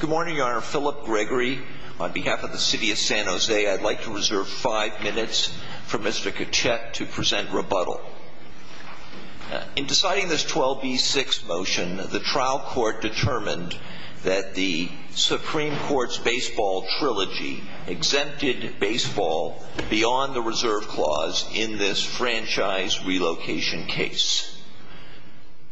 Good morning, Your Honor. Philip Gregory, on behalf of the City of San Jose, I'd like to reserve five minutes for Mr. Kachet to present rebuttal. In deciding this 12B6 motion, the trial court determined that the Supreme Court's baseball trilogy exempted baseball beyond the reserve clause in this franchise relocation case.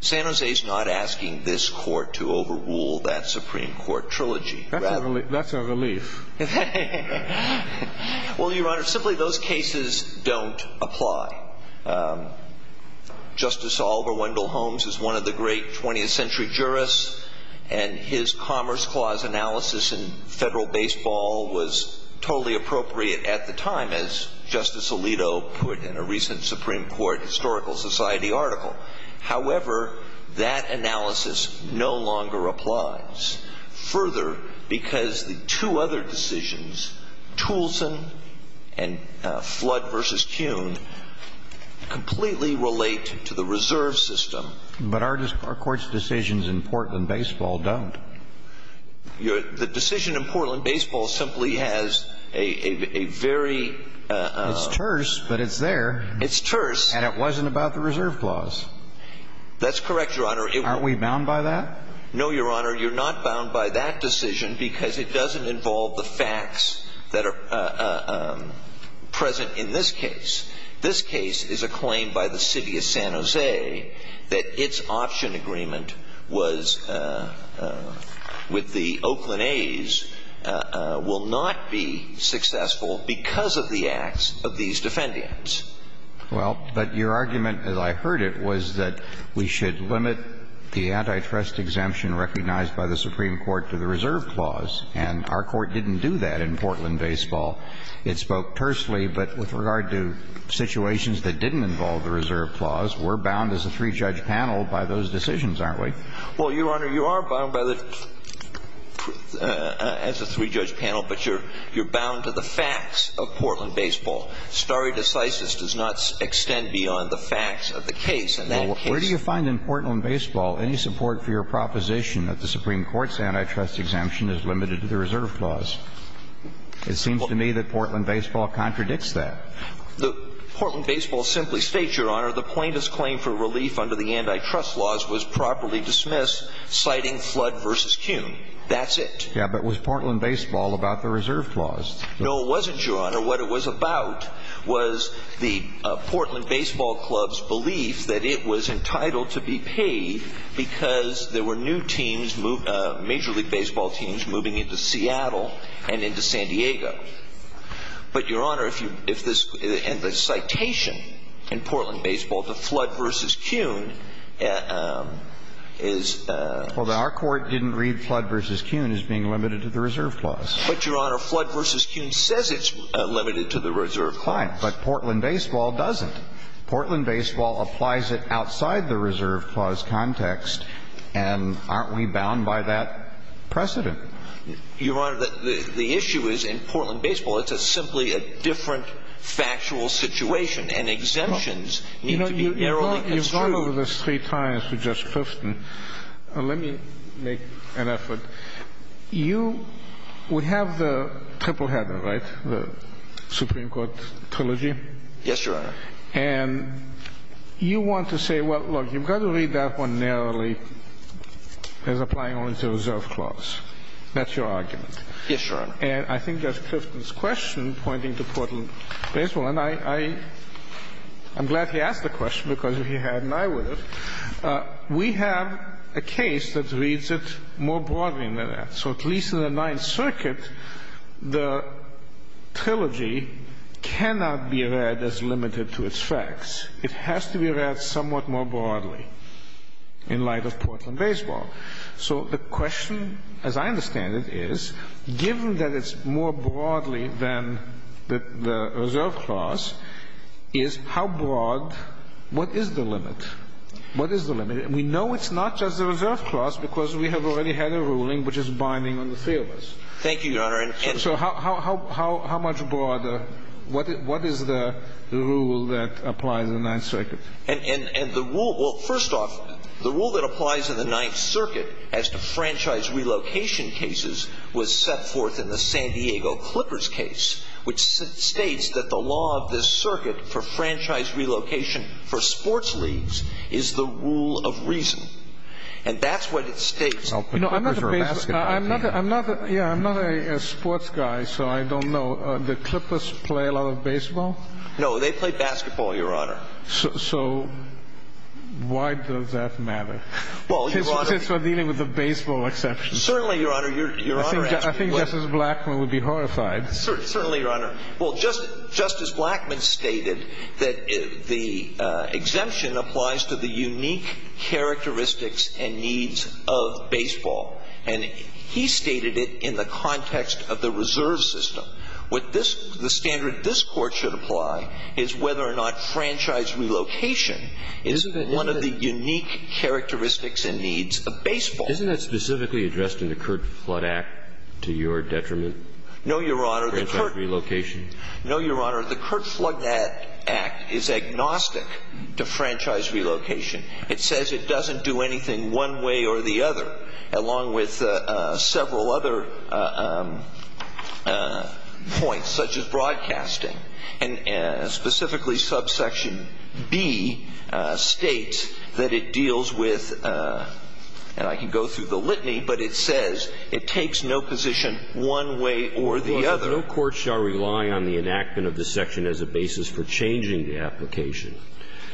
San Jose's not asking this court to overrule that Supreme Court trilogy. That's a relief. Well, Your Honor, simply those cases don't apply. Justice Oliver Wendell Holmes is one of the great 20th century jurists, and his Commerce Clause analysis in federal baseball was totally appropriate at the time, as Justice Alito put in a recent Supreme Court Historical Society article. However, that analysis no longer applies. Further, because the two other decisions, Toulson and Flood v. Kuhn, completely relate to the reserve system. But our court's decisions in Portland baseball don't. The decision in Portland baseball simply has a very... It's terse, but it's there. It's terse. And it wasn't about the reserve clause. That's correct, Your Honor. Aren't we bound by that? No, Your Honor, you're not bound by that decision because it doesn't involve the facts that are present in this case. This case is a claim by the city of San Jose that its option agreement was with the Oakland A's will not be successful because of the acts of these defendants. Well, but your argument, as I heard it, was that we should limit the antitrust exemption recognized by the Supreme Court to the reserve clause. And our court didn't do that in Portland baseball. It spoke tersely. But with regard to situations that didn't involve the reserve clause, we're bound as a three-judge panel by those decisions, aren't we? Well, Your Honor, you are bound by the... as a three-judge panel, but you're bound to the facts of Portland baseball. Stare decisis does not extend beyond the facts of the case. Well, where do you find in Portland baseball any support for your proposition that the Supreme Court's antitrust exemption is limited to the reserve clause? It seems to me that Portland baseball contradicts that. Portland baseball simply states, Your Honor, the plaintiff's claim for relief under the antitrust laws was properly dismissed, citing Flood v. Kuhn. That's it. Yeah, but was Portland baseball about the reserve clause? No, it wasn't, Your Honor. What it was about was the Portland baseball club's belief that it was entitled to be paid because there were new teams, major league baseball teams, moving into Seattle and into San Diego. But, Your Honor, if this citation in Portland baseball to Flood v. Kuhn is... Well, our court didn't read Flood v. Kuhn as being limited to the reserve clause. But, Your Honor, Flood v. Kuhn says it's limited to the reserve clause. But Portland baseball doesn't. Portland baseball applies it outside the reserve clause context, and aren't we bound by that precedent? Your Honor, the issue is, in Portland baseball, it's simply a different factual situation, and exemptions need to be narrowly construed. You've gone over this three times with Judge Christin. Let me make an effort. You would have the triple header, right, the Supreme Court trilogy? Yes, Your Honor. And you want to say, well, look, you've got to read that one narrowly as applying only to the reserve clause. That's your argument. Yes, Your Honor. And I think Judge Christin's question pointing to Portland baseball, and I'm glad he asked the question because if he hadn't, I would have. We have a case that reads it more broadly than that. So at least in the Ninth Circuit, the trilogy cannot be read as limited to its facts. It has to be read somewhat more broadly in light of Portland baseball. So the question, as I understand it, is, given that it's more broadly than the reserve clause, is how broad, what is the limit? What is the limit? And we know it's not just the reserve clause because we have already had a ruling which is binding on the three of us. Thank you, Your Honor. So how much broader, what is the rule that applies in the Ninth Circuit? Well, first off, the rule that applies in the Ninth Circuit as to franchise relocation cases was set forth in the San Diego Clippers case, which states that the law of this circuit for franchise relocation for sports leagues is the rule of reason. And that's what it states. I'm not a sports guy, so I don't know. Do Clippers play a lot of baseball? No, they play basketball, Your Honor. So why does that matter, since we're dealing with a baseball exception? Certainly, Your Honor. I think Justice Blackmun would be horrified. Certainly, Your Honor. Well, Justice Blackmun stated that the exemption applies to the unique characteristics and needs of baseball. And he stated it in the context of the reserve system. What this, the standard this Court should apply is whether or not franchise relocation is one of the unique characteristics and needs of baseball. Isn't that specifically addressed in the Curt Flood Act, to your detriment? No, Your Honor. Franchise relocation. No, Your Honor. The Curt Flood Act is agnostic to franchise relocation. It says it doesn't do anything one way or the other, along with several other points, such as broadcasting. And specifically subsection B states that it deals with, and I can go through the litany, but it says it takes no position one way or the other. No court shall rely on the enactment of this section as a basis for changing the application.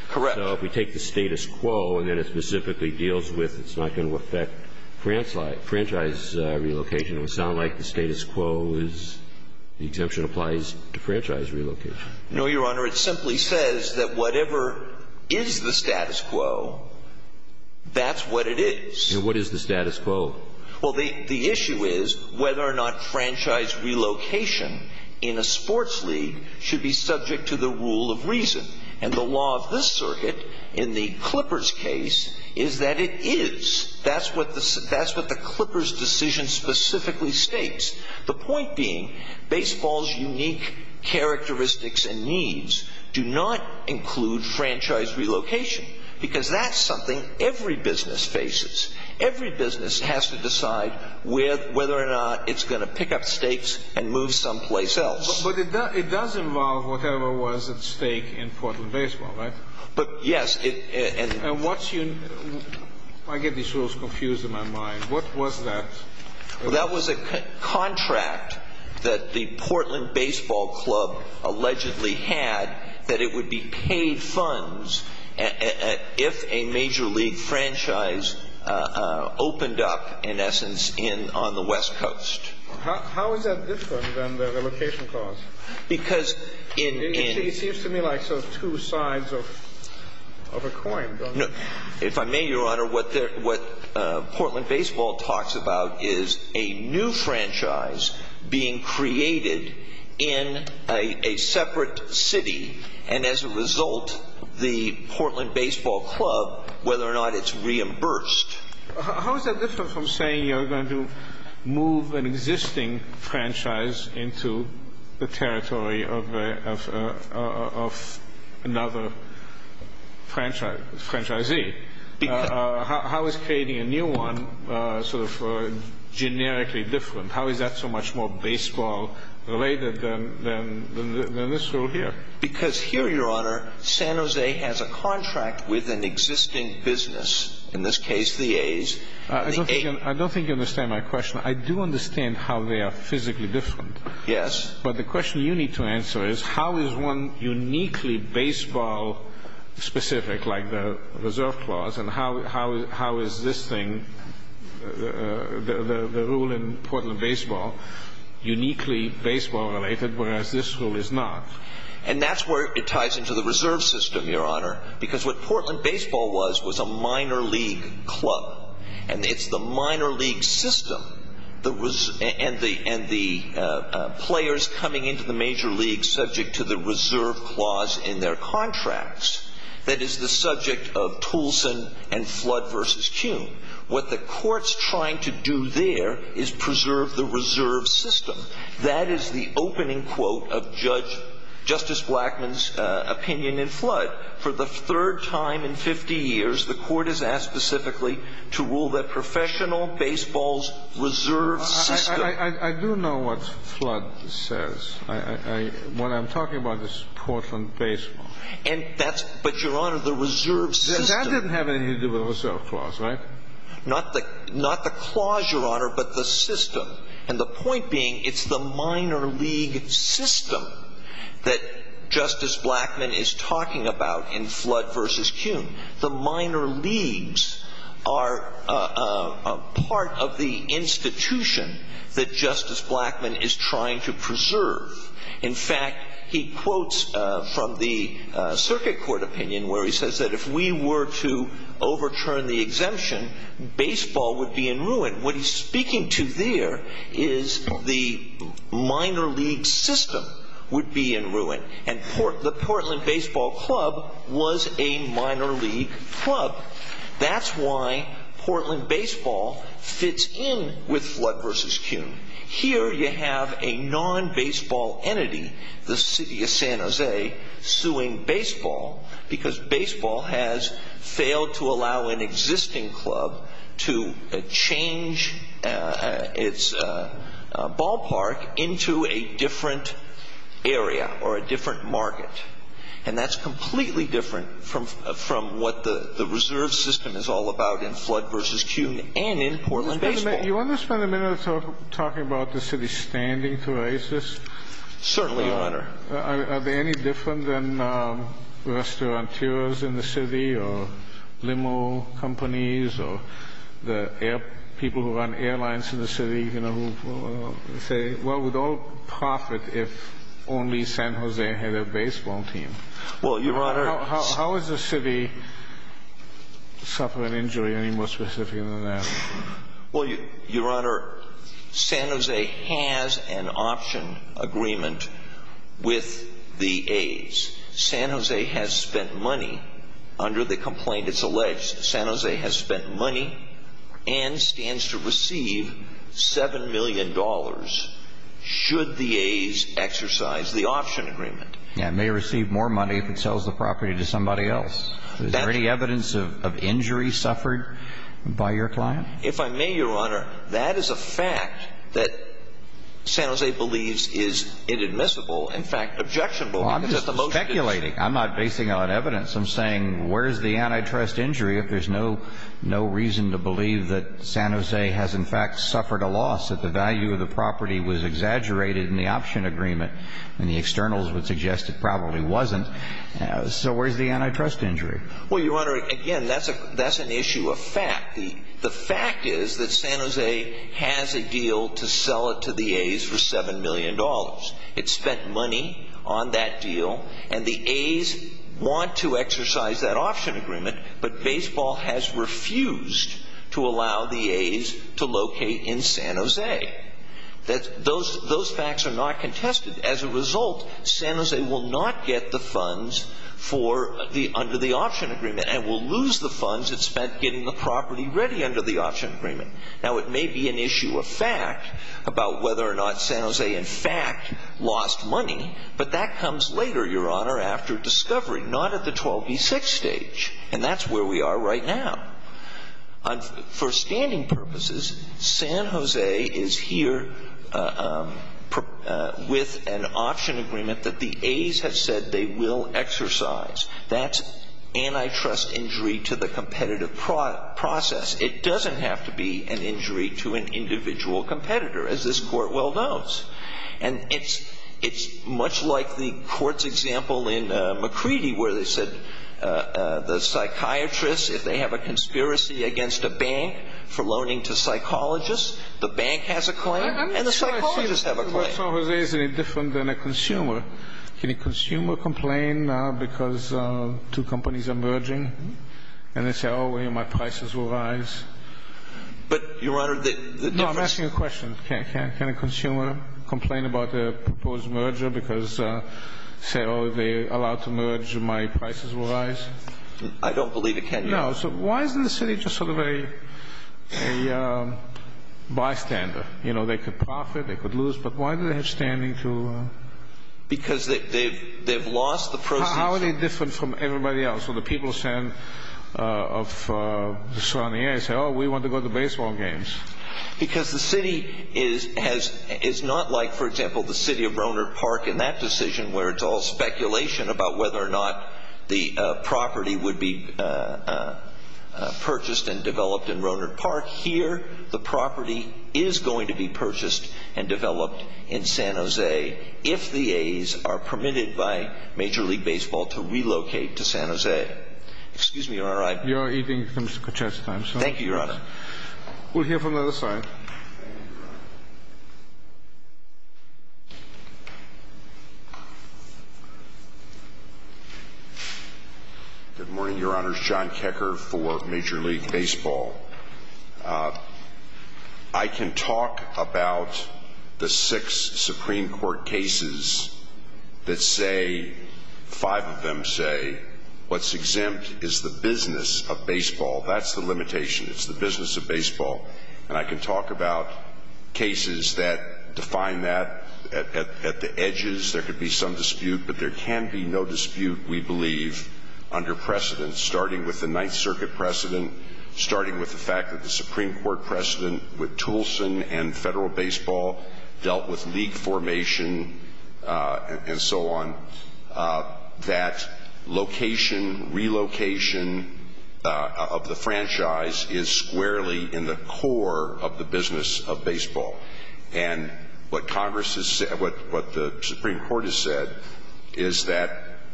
Correct. So if we take the status quo and then it specifically deals with it's not going to affect franchise relocation, it would sound like the status quo is the exemption applies to franchise relocation. No, Your Honor. It simply says that whatever is the status quo, that's what it is. And what is the status quo? Well, the issue is whether or not franchise relocation in a sports league should be subject to the rule of reason. And the law of this circuit in the Clippers case is that it is. That's what the Clippers decision specifically states. The point being, baseball's unique characteristics and needs do not include franchise relocation, because that's something every business faces. Every business has to decide whether or not it's going to pick up stakes and move someplace else. But it does involve whatever was at stake in Portland Baseball, right? Yes. And what's your – I get these rules confused in my mind. What was that? Well, that was a contract that the Portland Baseball Club allegedly had that it would be paid funds if a major league franchise opened up, in essence, on the West Coast. How is that different than the relocation clause? Because in – It seems to me like sort of two sides of a coin, doesn't it? If I may, Your Honor, what Portland Baseball talks about is a new franchise being created in a separate city. And as a result, the Portland Baseball Club, whether or not it's reimbursed – How is that different from saying you're going to move an existing franchise into the territory of another franchisee? How is creating a new one sort of generically different? How is that so much more baseball-related than this rule here? Because here, Your Honor, San Jose has a contract with an existing business. In this case, the A's. I don't think you understand my question. I do understand how they are physically different. Yes. But the question you need to answer is how is one uniquely baseball-specific, like the reserve clause, and how is this thing, the rule in Portland Baseball, uniquely baseball-related, whereas this rule is not? And that's where it ties into the reserve system, Your Honor, because what Portland Baseball was was a minor league club. And it's the minor league system and the players coming into the major leagues subject to the reserve clause in their contracts that is the subject of Toulson and Flood v. Kuhn. What the court's trying to do there is preserve the reserve system. That is the opening quote of Justice Blackmun's opinion in Flood. For the third time in 50 years, the court has asked specifically to rule that professional baseball's reserve system. I do know what Flood says. What I'm talking about is Portland Baseball. But, Your Honor, the reserve system. That didn't have anything to do with the reserve clause, right? Not the clause, Your Honor, but the system. And the point being it's the minor league system that Justice Blackmun is talking about in Flood v. Kuhn. The minor leagues are part of the institution that Justice Blackmun is trying to preserve. In fact, he quotes from the circuit court opinion where he says that if we were to overturn the exemption, baseball would be in ruin. What he's speaking to there is the minor league system would be in ruin. And the Portland Baseball Club was a minor league club. That's why Portland Baseball fits in with Flood v. Kuhn. Here you have a non-baseball entity, the city of San Jose, suing baseball because baseball has failed to allow an existing club to change its ballpark into a different area or a different market. And that's completely different from what the reserve system is all about in Flood v. Kuhn and in Portland Baseball. You want to spend a minute talking about the city's standing to raise this? Certainly, Your Honor. Are they any different than restaurateurs in the city or limo companies or the people who run airlines in the city who say, well, we'd all profit if only San Jose had a baseball team? Well, Your Honor. How is the city suffering injury any more specific than that? Well, Your Honor, San Jose has an option agreement with the A's. San Jose has spent money under the complaint it's alleged. San Jose has spent money and stands to receive $7 million should the A's exercise the option agreement. It may receive more money if it sells the property to somebody else. Is there any evidence of injury suffered by your client? If I may, Your Honor, that is a fact that San Jose believes is inadmissible, in fact, objectionable. Well, I'm just speculating. I'm not basing it on evidence. I'm saying where's the antitrust injury if there's no reason to believe that San Jose has, in fact, suffered a loss, that the value of the property was exaggerated in the option agreement and the externals would suggest it probably wasn't? So where's the antitrust injury? Well, Your Honor, again, that's an issue of fact. The fact is that San Jose has a deal to sell it to the A's for $7 million. It spent money on that deal, and the A's want to exercise that option agreement, but baseball has refused to allow the A's to locate in San Jose. Those facts are not contested. As a result, San Jose will not get the funds for the under the option agreement and will lose the funds it spent getting the property ready under the option agreement. Now, it may be an issue of fact about whether or not San Jose, in fact, lost money, but that comes later, Your Honor, after discovery, not at the 12B6 stage, and that's where we are right now. For standing purposes, San Jose is here with an option agreement that the A's have said they will exercise. That's antitrust injury to the competitive process. It doesn't have to be an injury to an individual competitor, as this Court well knows. And it's much like the court's example in McCready where they said the psychiatrist, if they have a conspiracy against a bank for loaning to psychologists, the bank has a claim and the psychologists have a claim. I'm just trying to see if San Jose is any different than a consumer. Can a consumer complain now because two companies are merging? And they say, oh, well, my prices will rise. But, Your Honor, the difference No, I'm asking a question. Can a consumer complain about a proposed merger because they say, oh, they're allowed to merge and my prices will rise? I don't believe it can, Your Honor. No. So why isn't the city just sort of a bystander? You know, they could profit, they could lose, but why do they have standing to Because they've lost the proceeds How are they different from everybody else? So the people of the surrounding area say, oh, we want to go to the baseball games. Because the city is not like, for example, the city of Roanert Park in that decision where it's all speculation about whether or not the property would be purchased and developed in Roanert Park. Here, the property is going to be purchased and developed in San Jose if the A's are permitted by Major League Baseball to relocate to San Jose. Excuse me, Your Honor. You're eating from scotch, I'm sorry. Thank you, Your Honor. We'll hear from the other side. Good morning, Your Honors. John Kecker for Major League Baseball. I can talk about the six Supreme Court cases that say, five of them say, what's exempt is the business of baseball. That's the limitation. It's the business of baseball. And I can talk about cases that define that at the edges. There could be some dispute, but there can be no dispute, we believe, under precedent, starting with the Ninth Circuit precedent, starting with the fact that the Supreme Court precedent with Toulson and Federal Baseball dealt with league formation and so on. That location, relocation of the franchise is squarely in the core of the business of baseball. And what the Supreme Court has said is that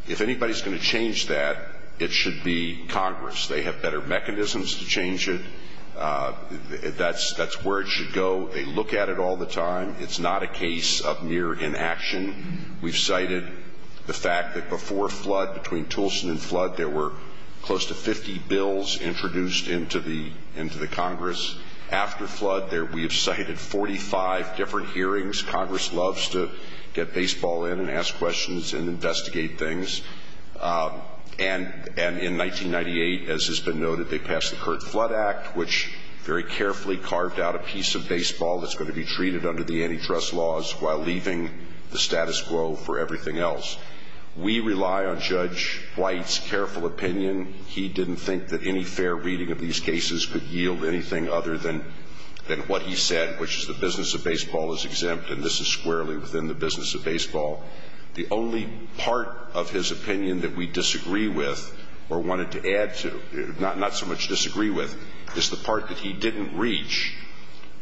if anybody's going to change that, it should be Congress. They have better mechanisms to change it. That's where it should go. They look at it all the time. It's not a case of mere inaction. We've cited the fact that before Flood, between Toulson and Flood, there were close to 50 bills introduced into the Congress. After Flood, we have cited 45 different hearings. Congress loves to get baseball in and ask questions and investigate things. And in 1998, as has been noted, they passed the Curt Flood Act, which very carefully carved out a piece of baseball that's going to be treated under the antitrust laws while leaving the status quo for everything else. We rely on Judge White's careful opinion. He didn't think that any fair reading of these cases could yield anything other than what he said, which is the business of baseball is exempt, and this is squarely within the business of baseball. The only part of his opinion that we disagree with or wanted to add to, not so much disagree with, is the part that he didn't reach,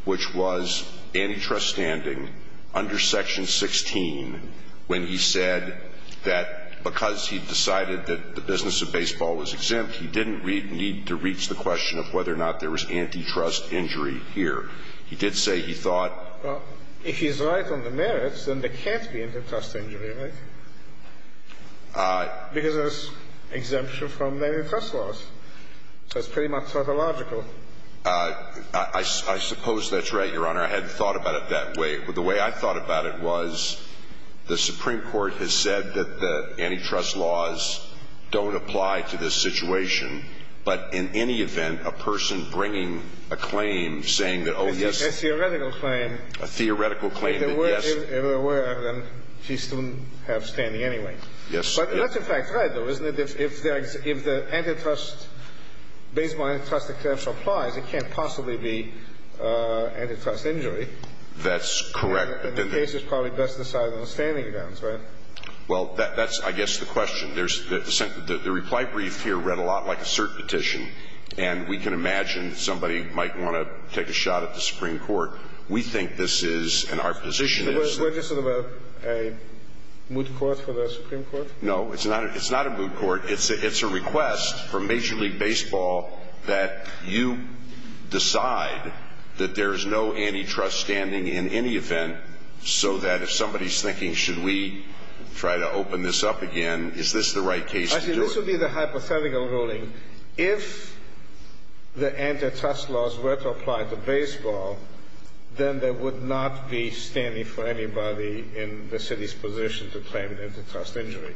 which was antitrust standing under Section 16, when he said that because he decided that the business of baseball was exempt, he didn't need to reach the question of whether or not there was antitrust injury here. He did say he thought ---- Well, if he's right on the merits, then there can't be antitrust injury, right? Because there's exemption from the antitrust laws. So it's pretty much pathological. I suppose that's right, Your Honor. I hadn't thought about it that way. The way I thought about it was the Supreme Court has said that the antitrust laws don't apply to this situation, but in any event, a person bringing a claim saying that, oh, yes. A theoretical claim. A theoretical claim that, yes. If it were, then he still would have standing anyway. Yes. But that's in fact right, though, isn't it? If the antitrust, baseball antitrust exemption applies, it can't possibly be antitrust injury. That's correct. And the case is probably best decided on the standing grounds, right? Well, that's, I guess, the question. The reply brief here read a lot like a cert petition. And we can imagine somebody might want to take a shot at the Supreme Court. We think this is, and our position is that ---- We're just sort of a moot court for the Supreme Court? No. It's not a moot court. It's a request from Major League Baseball that you decide that there is no antitrust standing in any event so that if somebody is thinking, should we try to open this up again, is this the right case to do it? Actually, this would be the hypothetical ruling. then there would not be standing for anybody in the city's position to claim an antitrust injury.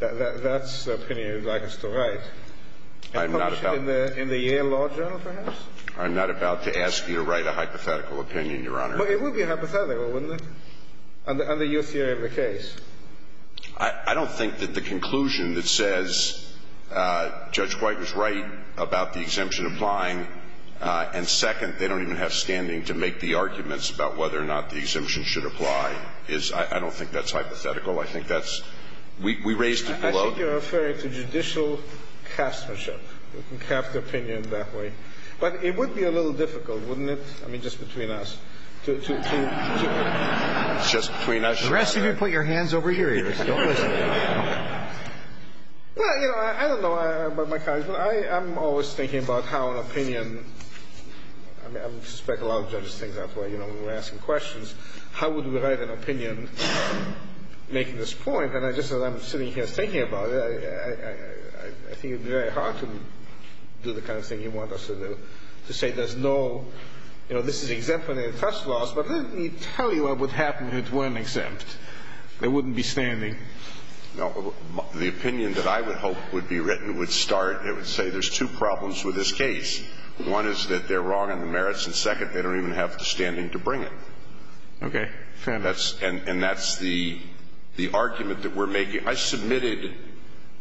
That's the opinion you'd like us to write. I'm not about ---- In the Yale Law Journal, perhaps? I'm not about to ask you to write a hypothetical opinion, Your Honor. But it would be hypothetical, wouldn't it? Under your theory of the case. I don't think that the conclusion that says Judge White was right about the exemption applying and, second, they don't even have standing to make the arguments about whether or not the exemption should apply is ---- I don't think that's hypothetical. I think that's ---- We raised it below. I think you're referring to judicial castmanship. You can cast an opinion that way. But it would be a little difficult, wouldn't it? I mean, just between us. Just between us. The rest of you put your hands over your ears. Don't listen. Well, you know, I don't know about my colleagues, but I'm always thinking about how an opinion ---- I mean, I suspect a lot of judges think that way, you know, when we're asking questions. How would we write an opinion making this point? And I just, as I'm sitting here thinking about it, I think it would be very hard to do the kind of thing you want us to do, to say there's no ---- you know, this is exempt from antitrust laws. But let me tell you what would happen if it weren't exempt. They wouldn't be standing. No. The opinion that I would hope would be written would start, it would say there's two problems with this case. One is that they're wrong in the merits, and second, they don't even have the standing to bring it. Okay. Fair enough. And that's the argument that we're making. I submitted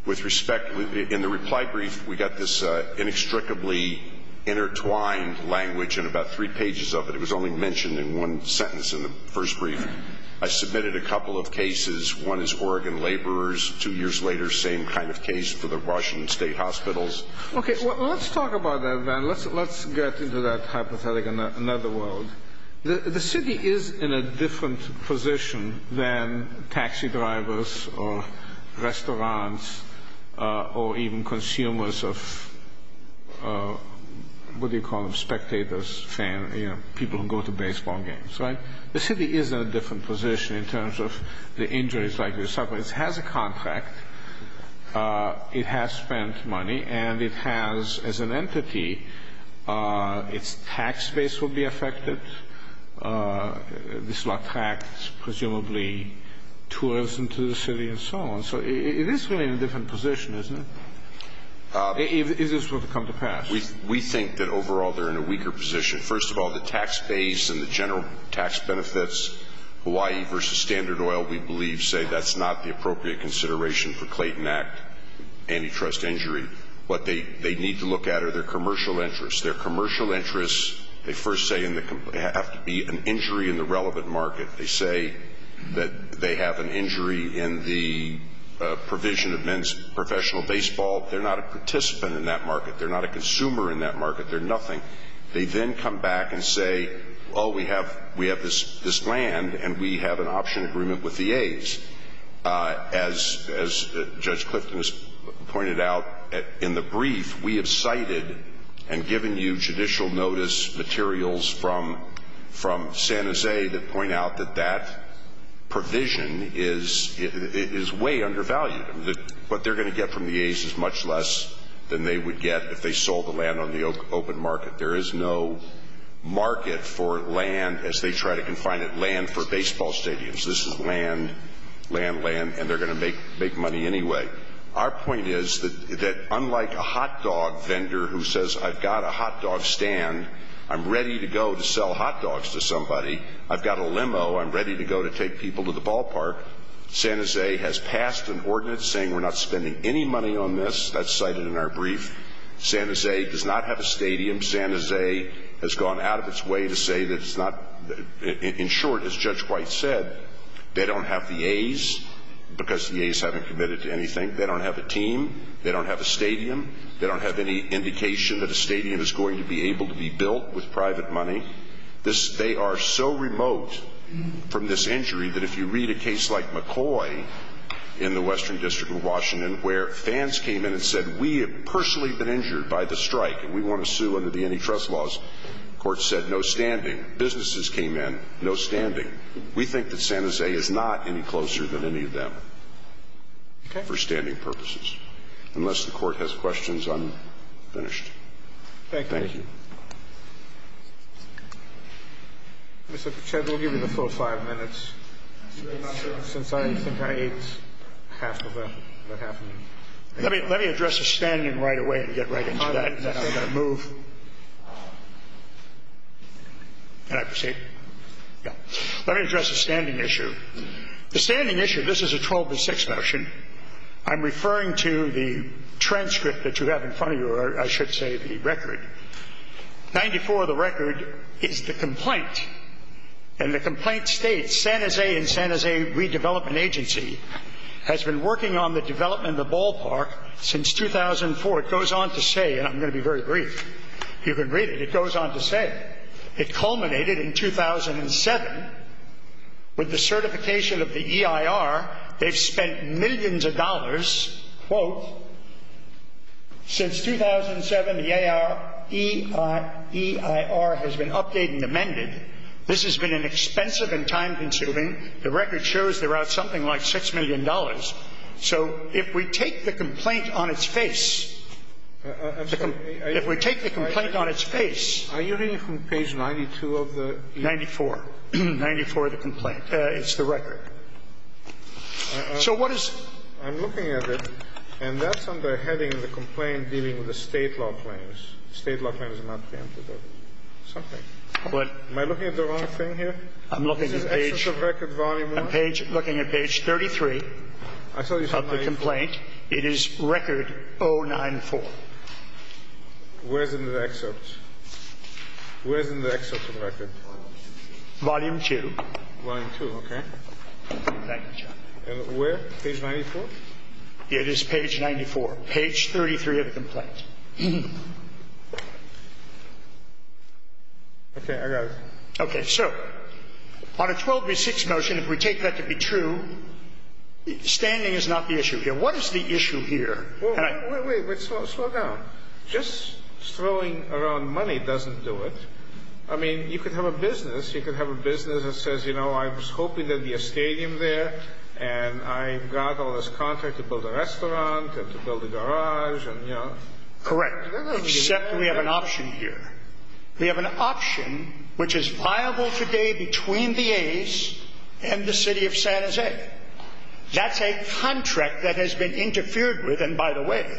with respect ---- in the reply brief, we got this inextricably intertwined language in about three pages of it. It was only mentioned in one sentence in the first brief. I submitted a couple of cases. One is Oregon laborers. Two years later, same kind of case for the Washington State Hospitals. Okay. Well, let's talk about that, Van. Let's get into that hypothetical in another world. The city is in a different position than taxi drivers or restaurants or even consumers of what do you call them, spectators, fans, you know, people who go to baseball games, right? The city is in a different position in terms of the injuries, like the sufferers. It has a contract. It has spent money. And it has, as an entity, its tax base will be affected. This will attract presumably tourism to the city and so on. So it is really in a different position, isn't it? Is this going to come to pass? We think that overall they're in a weaker position. First of all, the tax base and the general tax benefits, Hawaii versus Standard Oil, we believe say that's not the appropriate consideration for Clayton Act antitrust injury. What they need to look at are their commercial interests. Their commercial interests, they first say, have to be an injury in the relevant market. They say that they have an injury in the provision of men's professional baseball. They're not a participant in that market. They're not a consumer in that market. They're nothing. They then come back and say, oh, we have this land and we have an option agreement with the aides. As Judge Clifton has pointed out in the brief, we have cited and given you judicial notice materials from San Jose that point out that that provision is way undervalued. What they're going to get from the aides is much less than they would get if they sold the land on the open market. There is no market for land as they try to confine it, land for baseball stadiums. This is land, land, land, and they're going to make money anyway. Our point is that unlike a hot dog vendor who says I've got a hot dog stand, I'm ready to go to sell hot dogs to somebody, I've got a limo, I'm ready to go to take people to the ballpark, San Jose has passed an ordinance saying we're not spending any money on this. That's cited in our brief. San Jose does not have a stadium. San Jose has gone out of its way to say that it's not – in short, as Judge White said, they don't have the aides because the aides haven't committed to anything. They don't have a team. They don't have a stadium. They don't have any indication that a stadium is going to be able to be built with private money. They are so remote from this injury that if you read a case like McCoy in the Western District of Washington where fans came in and said we have personally been injured by the strike and we want to sue under the antitrust laws, the Court said no standing. Businesses came in, no standing. We think that San Jose is not any closer than any of them for standing purposes. Unless the Court has questions, I'm finished. Thank you. Mr. Pritchett, we'll give you the full five minutes since I think I ate half of what happened. Let me address the standing right away and get right into that. Then I'm going to move. Can I proceed? Yeah. Let me address the standing issue. The standing issue, this is a 12-6 motion. I'm referring to the transcript that you have in front of you, or I should say the record, 94 of the record is the complaint, and the complaint states, San Jose and San Jose Redevelopment Agency has been working on the development of the ballpark since 2004. It goes on to say, and I'm going to be very brief. You can read it. It goes on to say it culminated in 2007 with the certification of the EIR. They've spent millions of dollars, quote, since 2007 the EIR has been updated and amended. This has been an expensive and time-consuming. The record shows they're out something like $6 million. So if we take the complaint on its face, if we take the complaint on its face. Are you reading from page 92 of the? 94. 94 of the complaint. It's the record. So what is? I'm looking at it, and that's under heading of the complaint dealing with the State law claims. State law claims are not preempted or something. But. Am I looking at the wrong thing here? I'm looking at page. This is excerpt of record volume 1. I'm looking at page 33 of the complaint. It is record 094. Where's in the excerpt? Where's in the excerpt of record? Volume 2. Volume 2, okay. Thank you, Chuck. And where? Page 94? It is page 94. Page 33 of the complaint. Okay, I got it. Okay. So on a 12 v. 6 motion, if we take that to be true, standing is not the issue here. What is the issue here? Wait, wait, wait. Slow down. Just throwing around money doesn't do it. I mean, you could have a business. You could have a business that says, you know, I was hoping there would be a stadium there, and I got all this contract to build a restaurant and to build a garage and, you know. Correct. Except we have an option here. We have an option which is viable today between the A's and the city of San Jose. That's a contract that has been interfered with. And, by the way,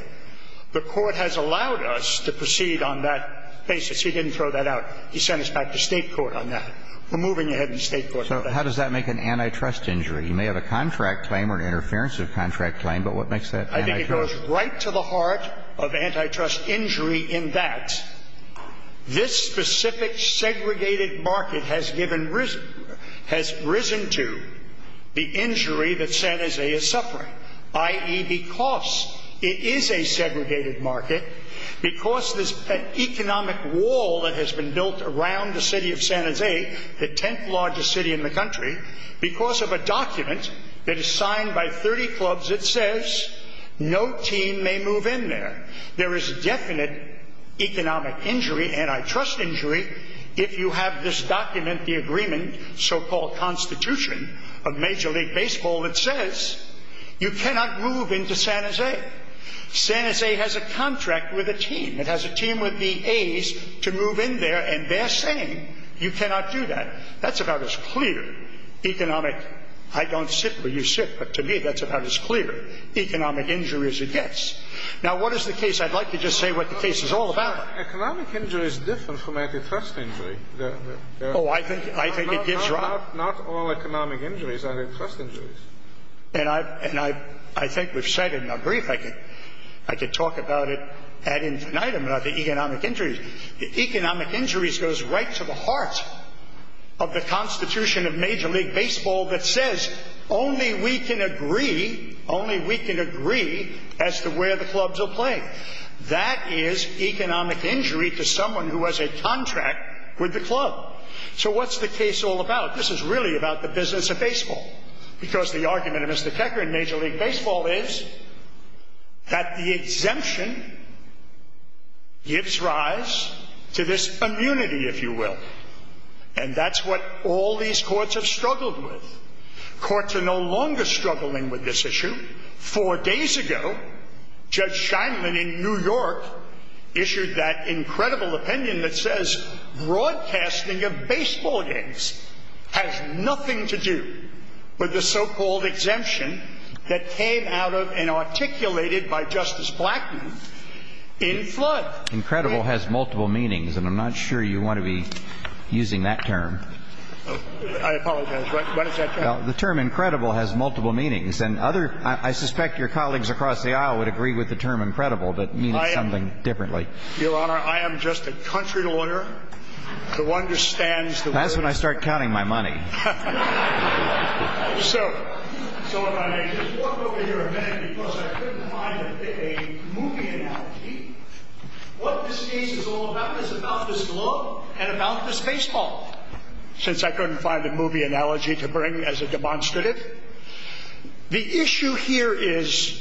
the court has allowed us to proceed on that basis. He didn't throw that out. He sent us back to state court on that. We're moving ahead to state court. So how does that make an antitrust injury? You may have a contract claim or an interference of contract claim, but what makes that antitrust? I think it goes right to the heart of antitrust injury in that this specific segregated market has risen to the injury that San Jose is suffering, i.e., because it is a segregated market, because there's an economic wall that has been built around the city of San Jose, the 10th largest city in the country, because of a document that is signed by 30 clubs that says no team may move in there. There is definite economic injury, antitrust injury, if you have this document, the agreement, the so-called constitution of Major League Baseball that says you cannot move into San Jose. San Jose has a contract with a team. It has a team with the A's to move in there, and they're saying you cannot do that. That's about as clear economic – I don't sit where you sit, but to me that's about as clear economic injury as it gets. Now, what is the case? I'd like to just say what the case is all about. Economic injury is different from antitrust injury. Oh, I think it gives rise – Not all economic injuries are antitrust injuries. And I think we've said it in a brief. I could talk about it at infinitum about the economic injuries. Economic injuries goes right to the heart of the constitution of Major League Baseball that says only we can agree, only we can agree as to where the clubs will play. That is economic injury to someone who has a contract with the club. So what's the case all about? This is really about the business of baseball, because the argument of Mr. Kecker in Major League Baseball is that the exemption gives rise to this immunity, if you will. And that's what all these courts have struggled with. Courts are no longer struggling with this issue. Four days ago, Judge Scheinman in New York issued that incredible opinion that says broadcasting of baseball games has nothing to do with the so-called exemption that came out of and articulated by Justice Blackmun in flood. Incredible has multiple meanings, and I'm not sure you want to be using that term. I apologize. What is that term? Well, the term incredible has multiple meanings, and I suspect your colleagues across the aisle would agree with the term incredible, but it means something differently. Your Honor, I am just a country lawyer who understands the word. That's when I start counting my money. So if I just walk over here a minute, because I couldn't find a movie analogy, what this case is all about is about this club and about this baseball. Since I couldn't find a movie analogy to bring as a demonstrative, the issue here is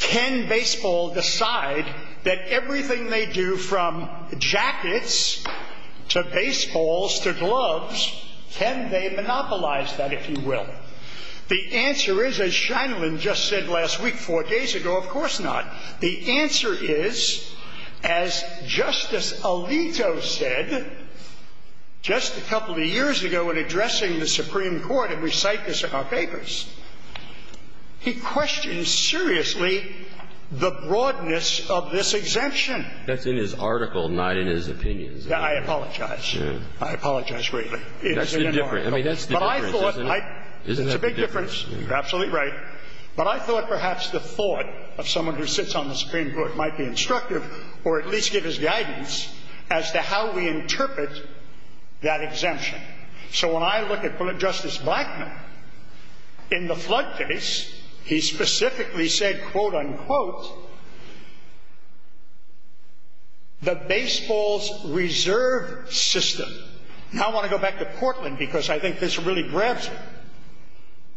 can baseball decide that everything they do from jackets to baseballs to gloves, can they monopolize that, if you will? The answer is, as Scheinman just said last week four days ago, of course not. The answer is, as Justice Alito said just a couple of years ago when addressing the Supreme Court in recite this in our papers, he questions seriously the broadness of this exemption. That's in his article, not in his opinions. I apologize. I apologize greatly. That's the difference. But I thought I – Isn't that the difference? It's a big difference. You're absolutely right. But I thought perhaps the thought of someone who sits on the Supreme Court might be instructive or at least give us guidance as to how we interpret that exemption. So when I look at Justice Blackmun in the flood case, he specifically said, quote, unquote, the baseball's reserve system. Now I want to go back to Portland because I think this really grabs me.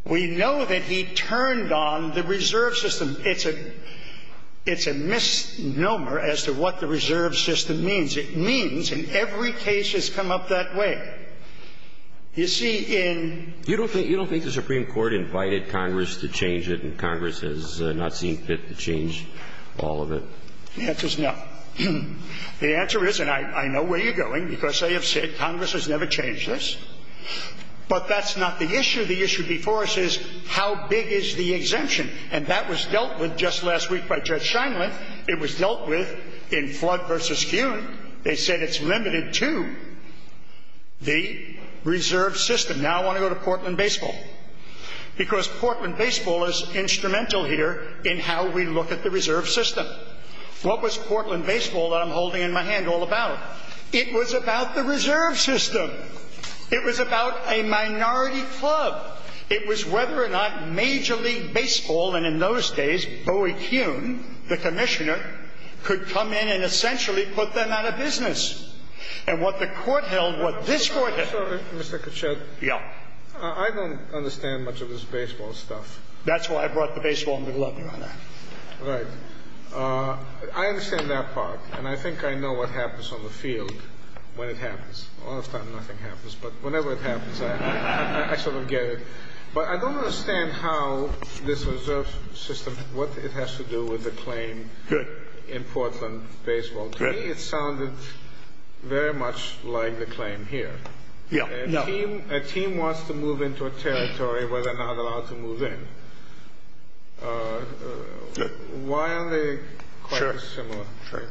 We know that he turned on the reserve system. It's a misnomer as to what the reserve system means. It means in every case it's come up that way. You see, in – You don't think the Supreme Court invited Congress to change it and Congress has not seen fit to change all of it? The answer is no. The answer is, and I know where you're going because I have said Congress has never changed this, but that's not the issue. The issue before us is how big is the exemption? And that was dealt with just last week by Judge Scheinman. It was dealt with in flood versus skew. They said it's limited to the reserve system. Now I want to go to Portland baseball because Portland baseball is instrumental here in how we look at the reserve system. What was Portland baseball that I'm holding in my hand all about? It was about the reserve system. It was about a minority club. It was whether or not Major League Baseball, and in those days, Bowie Kuhn, the commissioner, could come in and essentially put them out of business. And what the court held, what this court held – Sorry, Mr. Kuchet. Yeah. I don't understand much of this baseball stuff. That's why I brought the baseball in the glove, Your Honor. Right. I understand that part, and I think I know what happens on the field when it happens. A lot of times nothing happens, but whenever it happens, I sort of get it. But I don't understand how this reserve system, what it has to do with the claim in Portland baseball. To me, it sounded very much like the claim here. Yeah. A team wants to move into a territory where they're not allowed to move in. Why are they quite dissimilar? Sure.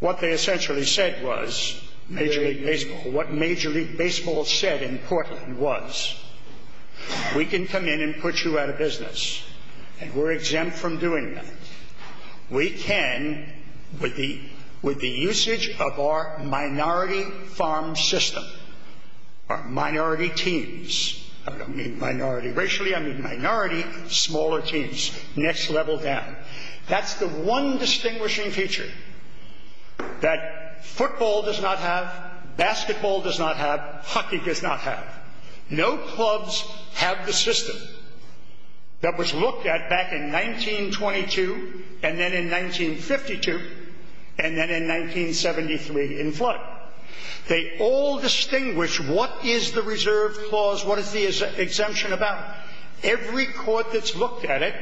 What they essentially said was, Major League Baseball, what Major League Baseball said in Portland was, we can come in and put you out of business, and we're exempt from doing that. We can, with the usage of our minority farm system, our minority teams. I don't mean minority racially. I mean minority smaller teams, next level down. That's the one distinguishing feature that football does not have, basketball does not have, hockey does not have. No clubs have the system that was looked at back in 1922, and then in 1952, and then in 1973 in flood. They all distinguish what is the reserve clause, what is the exemption about. Every court that's looked at it,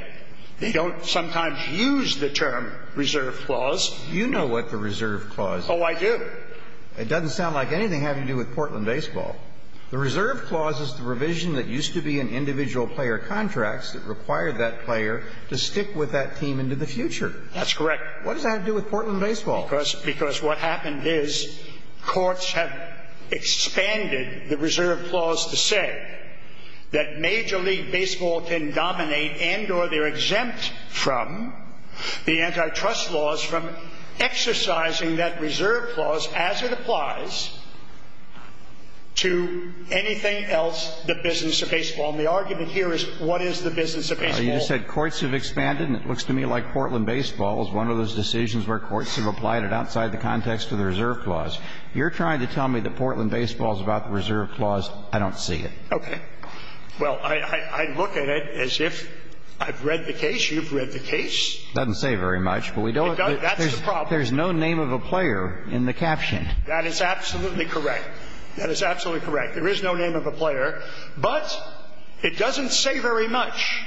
they don't sometimes use the term reserve clause. You know what the reserve clause is. Oh, I do. It doesn't sound like anything having to do with Portland baseball. The reserve clause is the revision that used to be in individual player contracts that required that player to stick with that team into the future. That's correct. What does that have to do with Portland baseball? Because what happened is courts have expanded the reserve clause to say that major league baseball can dominate and or they're exempt from the antitrust laws from exercising that reserve clause as it applies to anything else, the business of baseball. And the argument here is what is the business of baseball. You said courts have expanded, and it looks to me like Portland baseball is one of those decisions where courts have applied it outside the context of the reserve clause. You're trying to tell me that Portland baseball is about the reserve clause. I don't see it. Okay. Well, I look at it as if I've read the case. You've read the case. It doesn't say very much, but we don't. That's the problem. There's no name of a player in the caption. That is absolutely correct. That is absolutely correct. There is no name of a player, but it doesn't say very much.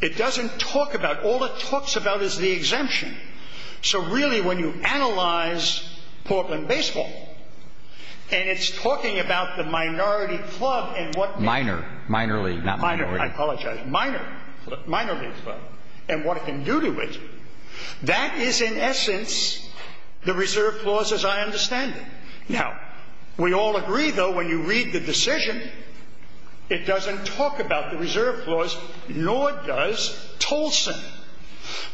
It doesn't talk about it. All it talks about is the exemption. So, really, when you analyze Portland baseball, and it's talking about the minority club and what... Minor, minor league, not minority. I apologize. Minor league club and what it can do to it. That is, in essence, the reserve clause as I understand it. Now, we all agree, though, when you read the decision, it doesn't talk about the reserve clause, nor does Tolson.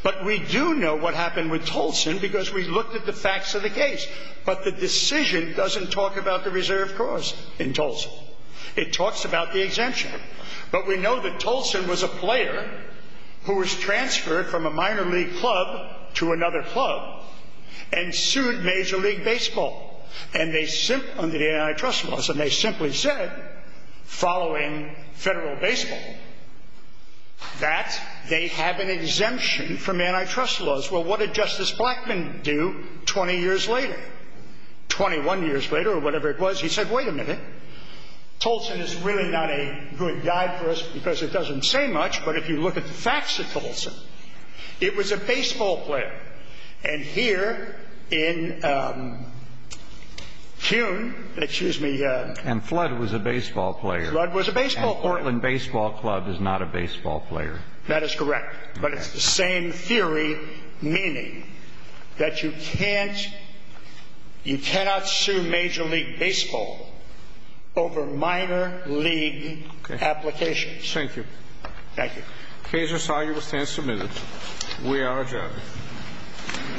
But we do know what happened with Tolson because we looked at the facts of the case. But the decision doesn't talk about the reserve clause in Tolson. It talks about the exemption. But we know that Tolson was a player who was transferred from a minor league club to another club and sued Major League Baseball. Under the antitrust laws. And they simply said, following federal baseball, that they have an exemption from antitrust laws. Well, what did Justice Blackmun do 20 years later? 21 years later, or whatever it was, he said, wait a minute. Tolson is really not a good guy for us because it doesn't say much. But if you look at the facts of Tolson, it was a baseball player. And here in CUNY, excuse me. And Flood was a baseball player. Flood was a baseball player. And Portland Baseball Club is not a baseball player. That is correct. But it's the same theory, meaning that you can't, you cannot sue Major League Baseball over minor league applications. Thank you. Thank you. The case is signed. You will stand submitted. We are adjourned. Thank you.